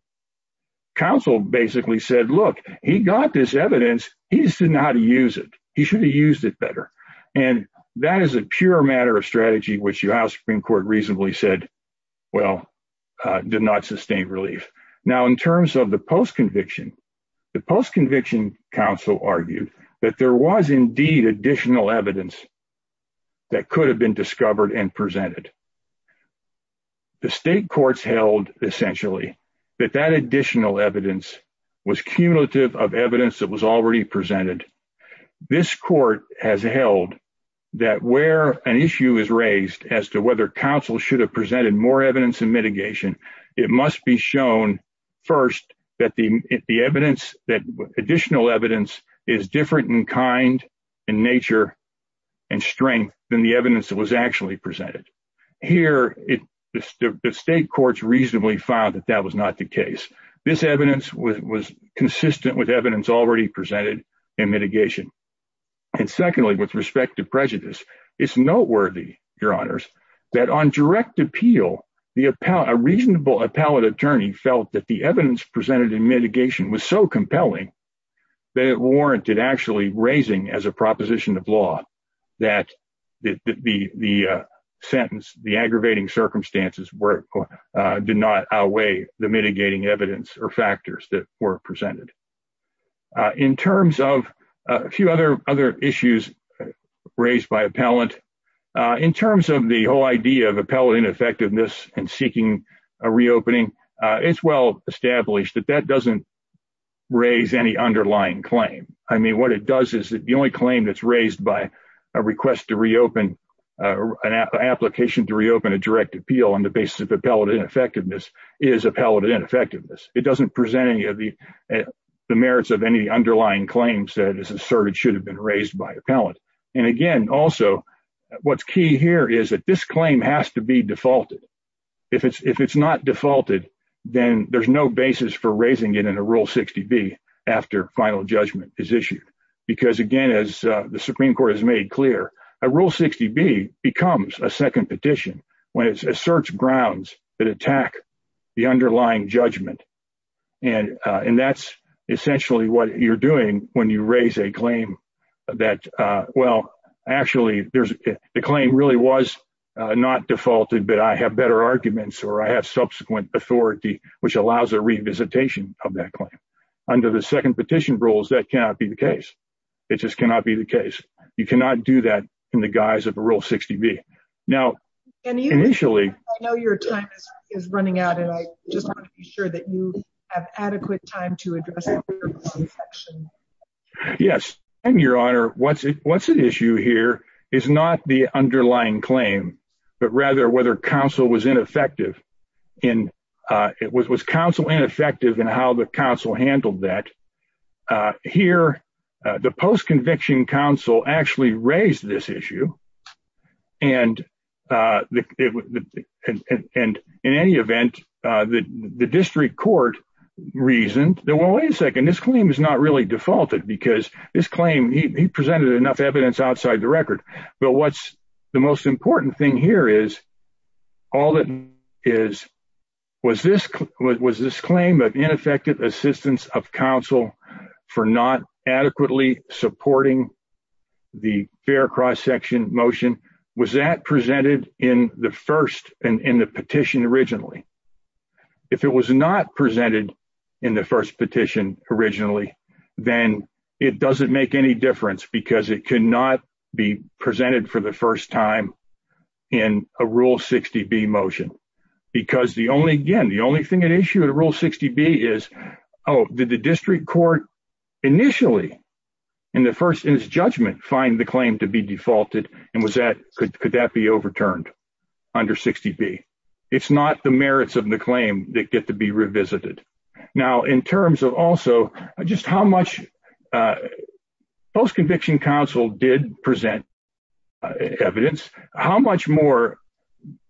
Counsel basically said, look, he got this evidence, he just didn't know how to use it. He should have used it better. And that is a pure matter of strategy, which Ohio Supreme Court reasonably said, well, did not sustain relief. Now, in terms of the post conviction, the post counsel argued that there was indeed additional evidence that could have been discovered and presented. The state courts held essentially that that additional evidence was cumulative of evidence that was already presented. This court has held that where an issue is raised as to whether counsel should have presented more evidence and mitigation, it must be shown first that the is different in kind and nature and strength than the evidence that was actually presented. Here, the state courts reasonably found that that was not the case. This evidence was consistent with evidence already presented in mitigation. And secondly, with respect to prejudice, it's noteworthy, your honors, that on direct appeal, a reasonable appellate attorney felt that the evidence presented in mitigation was so compelling that it warranted actually raising as a proposition of law that the sentence, the aggravating circumstances did not outweigh the mitigating evidence or factors that were presented. In terms of a few other issues raised by appellant, in terms of the whole idea of established, that that doesn't raise any underlying claim. I mean, what it does is that the only claim that's raised by a request to reopen, an application to reopen a direct appeal on the basis of appellate ineffectiveness is appellate ineffectiveness. It doesn't present any of the merits of any underlying claims that is asserted should have been raised by appellant. And again, also, what's key here is that this claim has to be defaulted. If it's not defaulted, then there's no basis for raising it in a Rule 60B after final judgment is issued. Because again, as the Supreme Court has made clear, a Rule 60B becomes a second petition when it asserts grounds that attack the underlying judgment. And that's essentially what you're doing when you raise a claim that, well, actually, the claim really was not defaulted, but I have better arguments or I which allows a revisitation of that claim. Under the second petition rules, that cannot be the case. It just cannot be the case. You cannot do that in the guise of a Rule 60B. Now, initially, I know your time is running out, and I just want to be sure that you have adequate time to address the section. Yes, and Your Honor, what's the issue here is not the underlying claim, but rather whether counsel was ineffective in how the counsel handled that. Here, the post-conviction counsel actually raised this issue. And in any event, the district court reasoned that, well, wait a second, this claim is not really defaulted because this claim, he presented enough evidence outside the record. But what's the most important thing here is, all that is, was this claim of ineffective assistance of counsel for not adequately supporting the fair cross-section motion, was that presented in the first, in the petition originally? If it was not presented in the first petition originally, then it doesn't make any difference because it cannot be presented for the first time in a Rule 60B motion. Because the only, again, the only thing at issue in Rule 60B is, oh, did the district court initially, in the first, in his judgment, find the claim to be defaulted? And was that, could that be overturned under 60B? It's not the merits of the claim that get to be revisited. Now, in terms of also just how much post-conviction counsel did present evidence, how much more,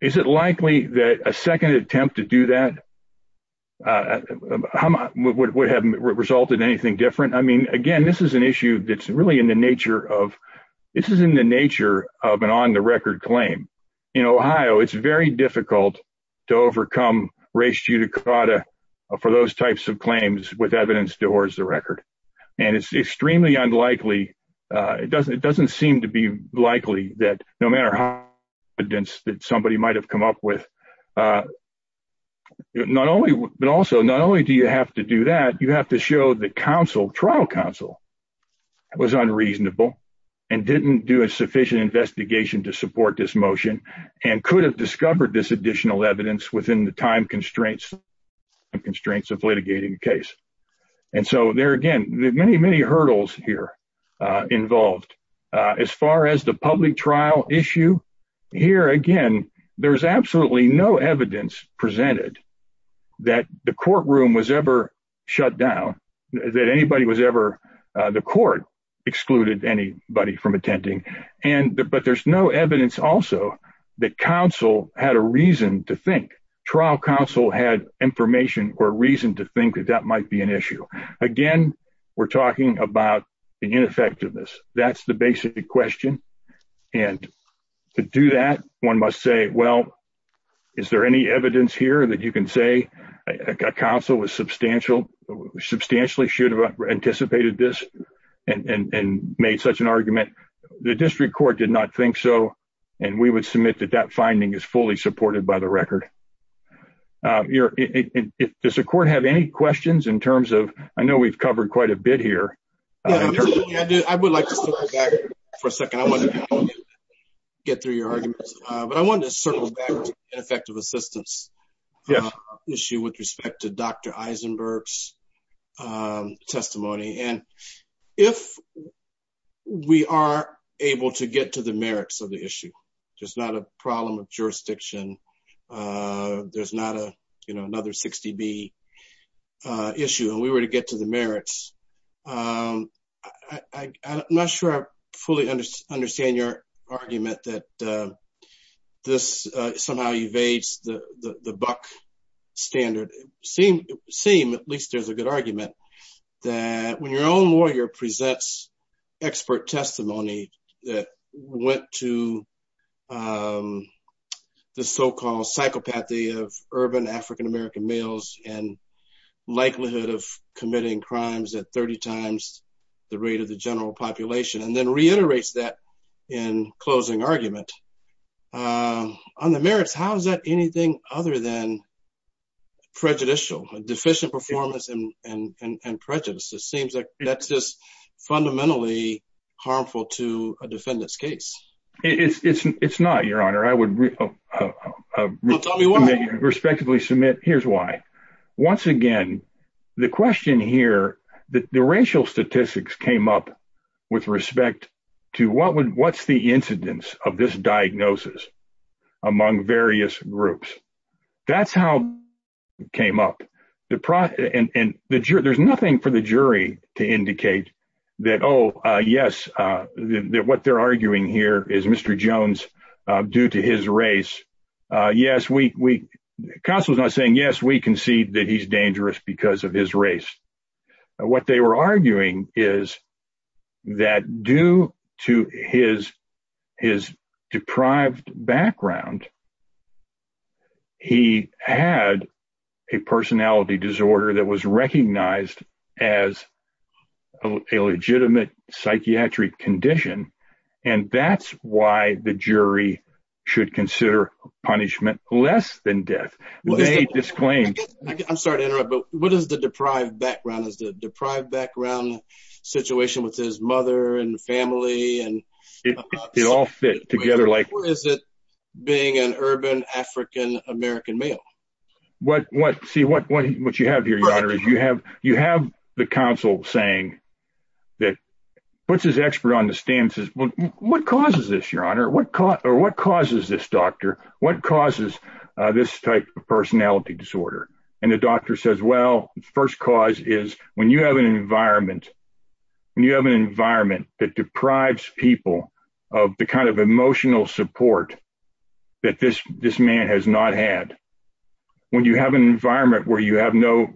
is it likely that a second attempt to do that would have resulted in anything different? I mean, again, this is an issue that's really in the nature of, this is in the nature of an on-the-record claim. In Ohio, it's very difficult to overcome res judicata for those types of claims with evidence towards the record. And it's extremely unlikely, it doesn't seem to be likely that no matter how evidence that somebody might have come up with, not only, but also not only do you have to do that, you have to show that counsel, trial counsel, was unreasonable and didn't do a sufficient investigation to support this motion and could have discovered this additional evidence within the time constraints of litigating the case. And so there again, there are many, many hurdles here involved. As far as the public trial issue, here again, there's absolutely no evidence presented that the courtroom was ever shut down, that anybody was ever, the court excluded anybody from attending. And, but there's no evidence also that counsel had a reason to think, trial counsel had information or reason to think that that might be an issue. Again, we're talking about the ineffectiveness. That's the basic question. And to do that, one must say, well, is there any evidence here that you can say a counsel was substantial, substantially should have anticipated this and made such an argument? The district court did not think so. And we would submit that that finding is fully supported by the record. Does the court have any questions in terms of, I know we've covered quite a bit here. I would like to circle back for a second. I want to get through your arguments, but I wanted to circle back to ineffective assistance issue with respect to Dr. Eisenberg's testimony. And if we are able to get to the merits of the issue, there's not a problem of jurisdiction. There's not a, you know, another 60B issue and we were to get to the merits. I'm not sure I fully understand your argument that this somehow evades the buck standard. Seem, at least there's a good argument that when your own lawyer presents expert testimony that went to the so-called psychopathy of urban African-American males and likelihood of committing crimes at 30 times the rate of the general population, and then prejudicial, deficient performance and prejudice. It seems like that's just fundamentally harmful to a defendant's case. It's not, your honor. I would respectively submit. Here's why. Once again, the question here, the racial statistics came up with respect to what's the incidence of this diagnosis among various groups. That's how it came up. And there's nothing for the jury to indicate that, oh, yes, what they're arguing here is Mr. Jones, due to his race. Yes, we concede that he's dangerous because of his race. What they were arguing is that due to his deprived background, he had a personality disorder that was recognized as a legitimate psychiatric condition. And that's why the jury should consider punishment less than death. They disclaimed. I'm sorry to interrupt, but what is the deprived background? Is the deprived background situation with his mother and family and. It all fit together like. Or is it being an urban African-American male? What what see what what you have here, your honor, is you have you have the counsel saying that puts his expert on the stance is what causes this, your honor? What caught or what causes this doctor? What causes this type of personality disorder? And the doctor says, well, the first cause is when you have an environment, when you have an environment that deprives people of the kind of emotional support that this this man has not had, when you have an environment where you have no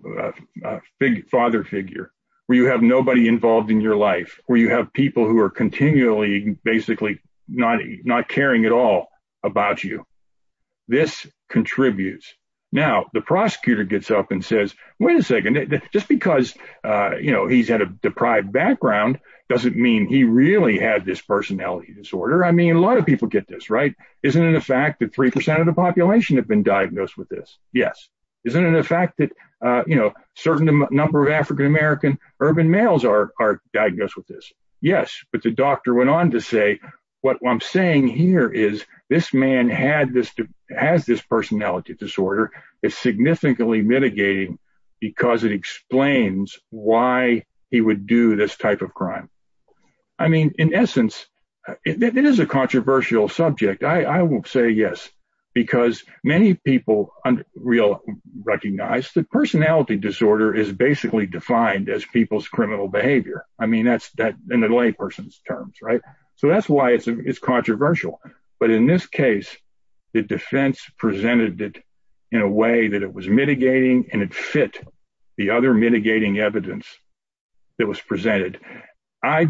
father figure, where you have nobody involved in your life, where you have people who are continually basically not not caring at all about you. This contributes. Now, the prosecutor gets up and says, wait a second, just because, you know, he's had a deprived background doesn't mean he really had this personality disorder. I mean, a lot of people get this right. Isn't it a fact that three percent of the population have been diagnosed with this? Yes. Isn't it a fact that, you know, certain number of African-American urban males are diagnosed with this? Yes. But the doctor went on to say what I'm saying here is this man had this has this personality disorder is significantly mitigating because it explains why he would do this type of crime. I mean, in essence, it is a controversial subject. I will say yes, because many people under real recognize that personality disorder is basically defined as people's criminal behavior. I mean, that's that in a lay person's terms. Right. So that's why it's controversial. But in this case, the defense presented it in a way that it was mitigating and it fit the other mitigating evidence that was presented. I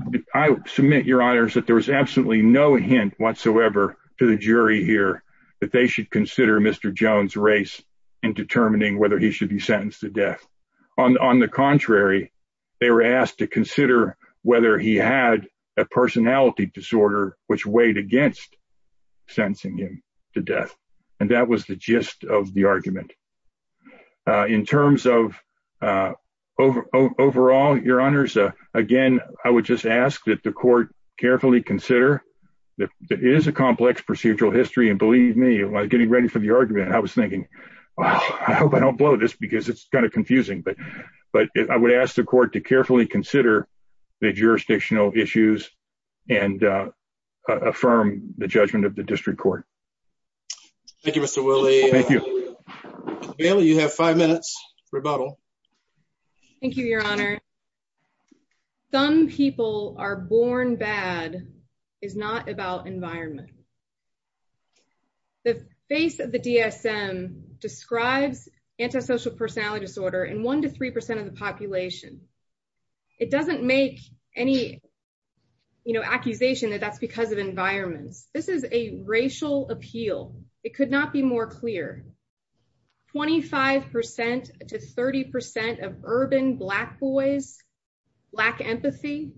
submit, your honors, that there was absolutely no hint whatsoever to the jury here that they should consider Mr. Jones race in determining whether he should be sentenced to death. On the contrary, they were asked to consider whether he had a personality disorder, which weighed against sentencing him to death. And that was the gist of the argument. In terms of overall, your honors, again, I would just ask that the court carefully consider that it is a complex procedural history. And believe me, getting ready for the argument, I was thinking, well, I hope I don't blow this because it's kind of confusing. But I would ask the court to carefully consider the jurisdictional issues and affirm the judgment of the district court. Thank you, Mr. Willie. You have five minutes rebuttal. Thank you, your honor. Some people are born bad is not about environment. The face of the DSM describes antisocial personality disorder in one to 3% of the population. It doesn't make any accusation that that's because of environments. This is a racial appeal. It could not be more clear. 25% to 30% of urban black boys lack empathy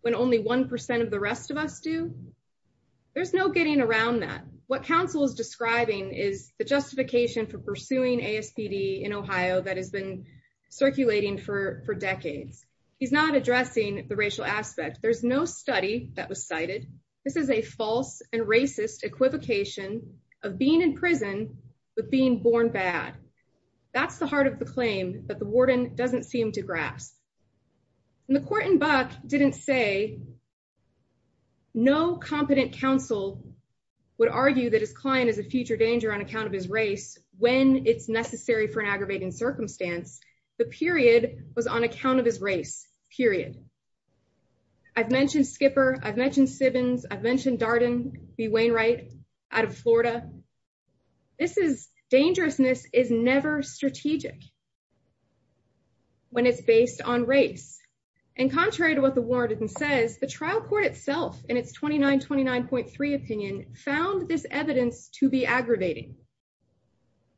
when only 1% of the What counsel is describing is the justification for pursuing ASPD in Ohio that has been circulating for decades. He's not addressing the racial aspect. There's no study that was cited. This is a false and racist equivocation of being in prison with being born bad. That's the heart of the claim that the warden doesn't seem to grasp. And the court in Buck didn't say no competent counsel would argue that his client is a future danger on account of his race when it's necessary for an aggravating circumstance. The period was on account of his race, period. I've mentioned Skipper. I've mentioned Sibbins. I've mentioned Darden B. Wainwright out of Florida. This is dangerousness is never strategic when it's based on race. And contrary to what the warden says, the trial court itself in its 29, 29.3 opinion found this evidence to be aggravating.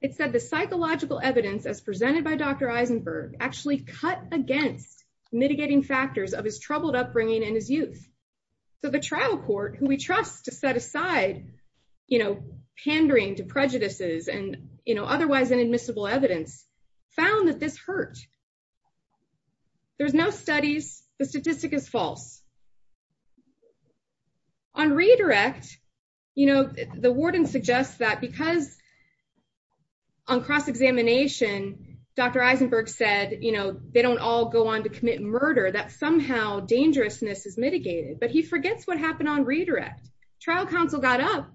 It said the psychological evidence as presented by Dr. Eisenberg actually cut against mitigating factors of his troubled upbringing and his youth. So the trial court who we trust to set aside, you know, pandering to found that this hurt. There's no studies. The statistic is false. On redirect, you know, the warden suggests that because on cross-examination, Dr. Eisenberg said, you know, they don't all go on to commit murder, that somehow dangerousness is mitigated. But he forgets what happened on redirect. Trial counsel got up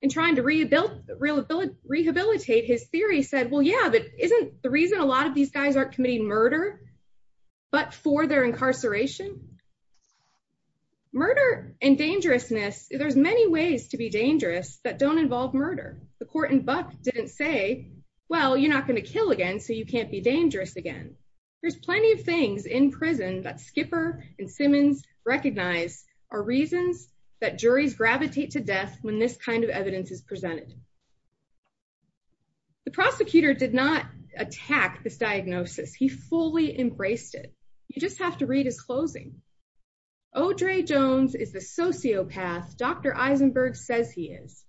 and trying to rehabilitate his theory said, well, yeah, isn't the reason a lot of these guys aren't committing murder, but for their incarceration, murder and dangerousness. There's many ways to be dangerous that don't involve murder. The court in Buck didn't say, well, you're not going to kill again. So you can't be dangerous again. There's plenty of things in prison that Skipper and Simmons recognize are reasons that attack this diagnosis. He fully embraced it. You just have to read his closing. Oh, Dre Jones is the sociopath. Dr. Eisenberg says he is.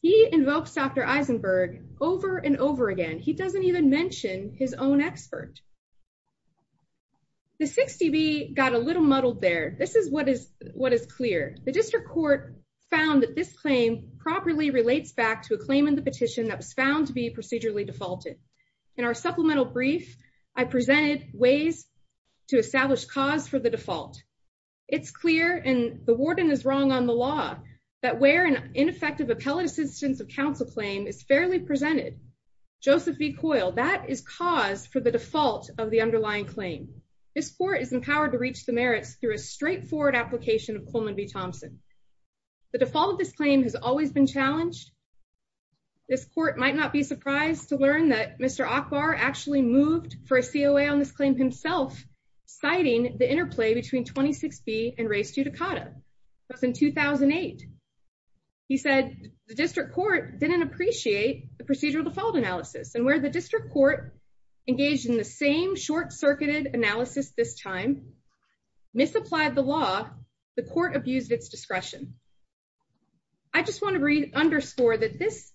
He invokes Dr. Eisenberg over and over again. He doesn't even mention his own expert. The 60B got a little muddled there. This is what is what is clear. The district court found that this claim properly relates back to a claim in the petition that was found to be procedurally defaulted. In our supplemental brief, I presented ways to establish cause for the default. It's clear and the warden is wrong on the law that where an ineffective appellate assistance of counsel claim is fairly presented. Joseph B. Coyle, that is cause for the default of the underlying claim. This court is empowered to reach the merits through a straightforward application of Coleman v. Thompson. The default of this claim has always been challenged. This court might not be surprised to learn that Mr. Akbar actually moved for a COA on this claim himself, citing the interplay between 26B and Ray Stuttakata. That's in 2008. He said the district court didn't appreciate the procedural default analysis and where the district court engaged in the same short circuited analysis this time, misapplied the law, the court abused its discretion. I just want to read underscore that this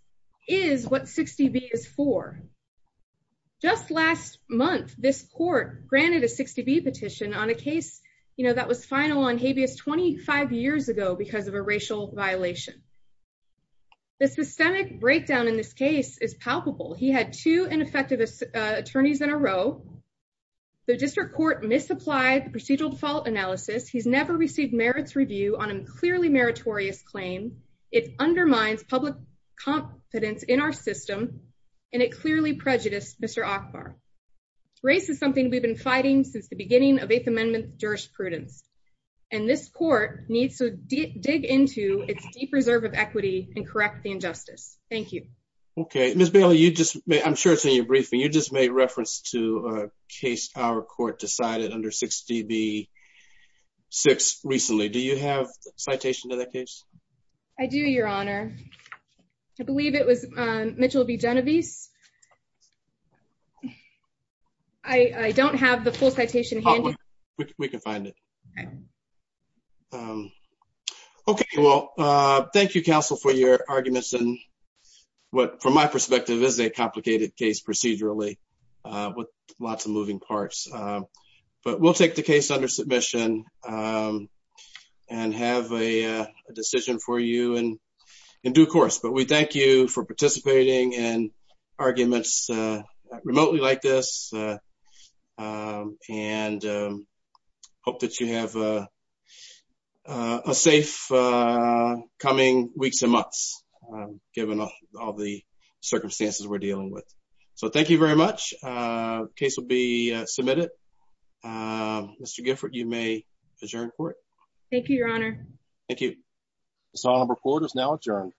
is what 60B is for. Just last month, this court granted a 60B petition on a case that was final on habeas 25 years ago because of a racial violation. This systemic breakdown in this case is palpable. He had two ineffective attorneys in a row. The district court misapplied the procedural default analysis. He's never received merits review on a clearly meritorious claim. It undermines public confidence in our system, and it clearly prejudiced Mr. Akbar. Race is something we've been fighting since the beginning of 8th Amendment jurisprudence, and this court needs to dig into its deep reserve of equity and correct the injustice. Thank you. Okay. Ms. Bailey, I'm sure it's in your briefing. You just made reference to a case our court decided under 60B-6 recently. Do you have a citation to that case? I do, Your Honor. I believe it was Mitchell v. Genovese. I don't have the full citation. We can find it. Okay. Well, thank you, counsel, for your arguments. From my perspective, this is a complicated case procedurally with lots of moving parts, but we'll take the case under submission and have a decision for you in due course, but we thank you for participating in arguments remotely like this and hope that you have a safe coming weeks and months, given all the circumstances we're dealing with. So, thank you very much. The case will be submitted. Mr. Gifford, you may adjourn court. Thank you, Your Honor. Thank you. This honorable court is now adjourned.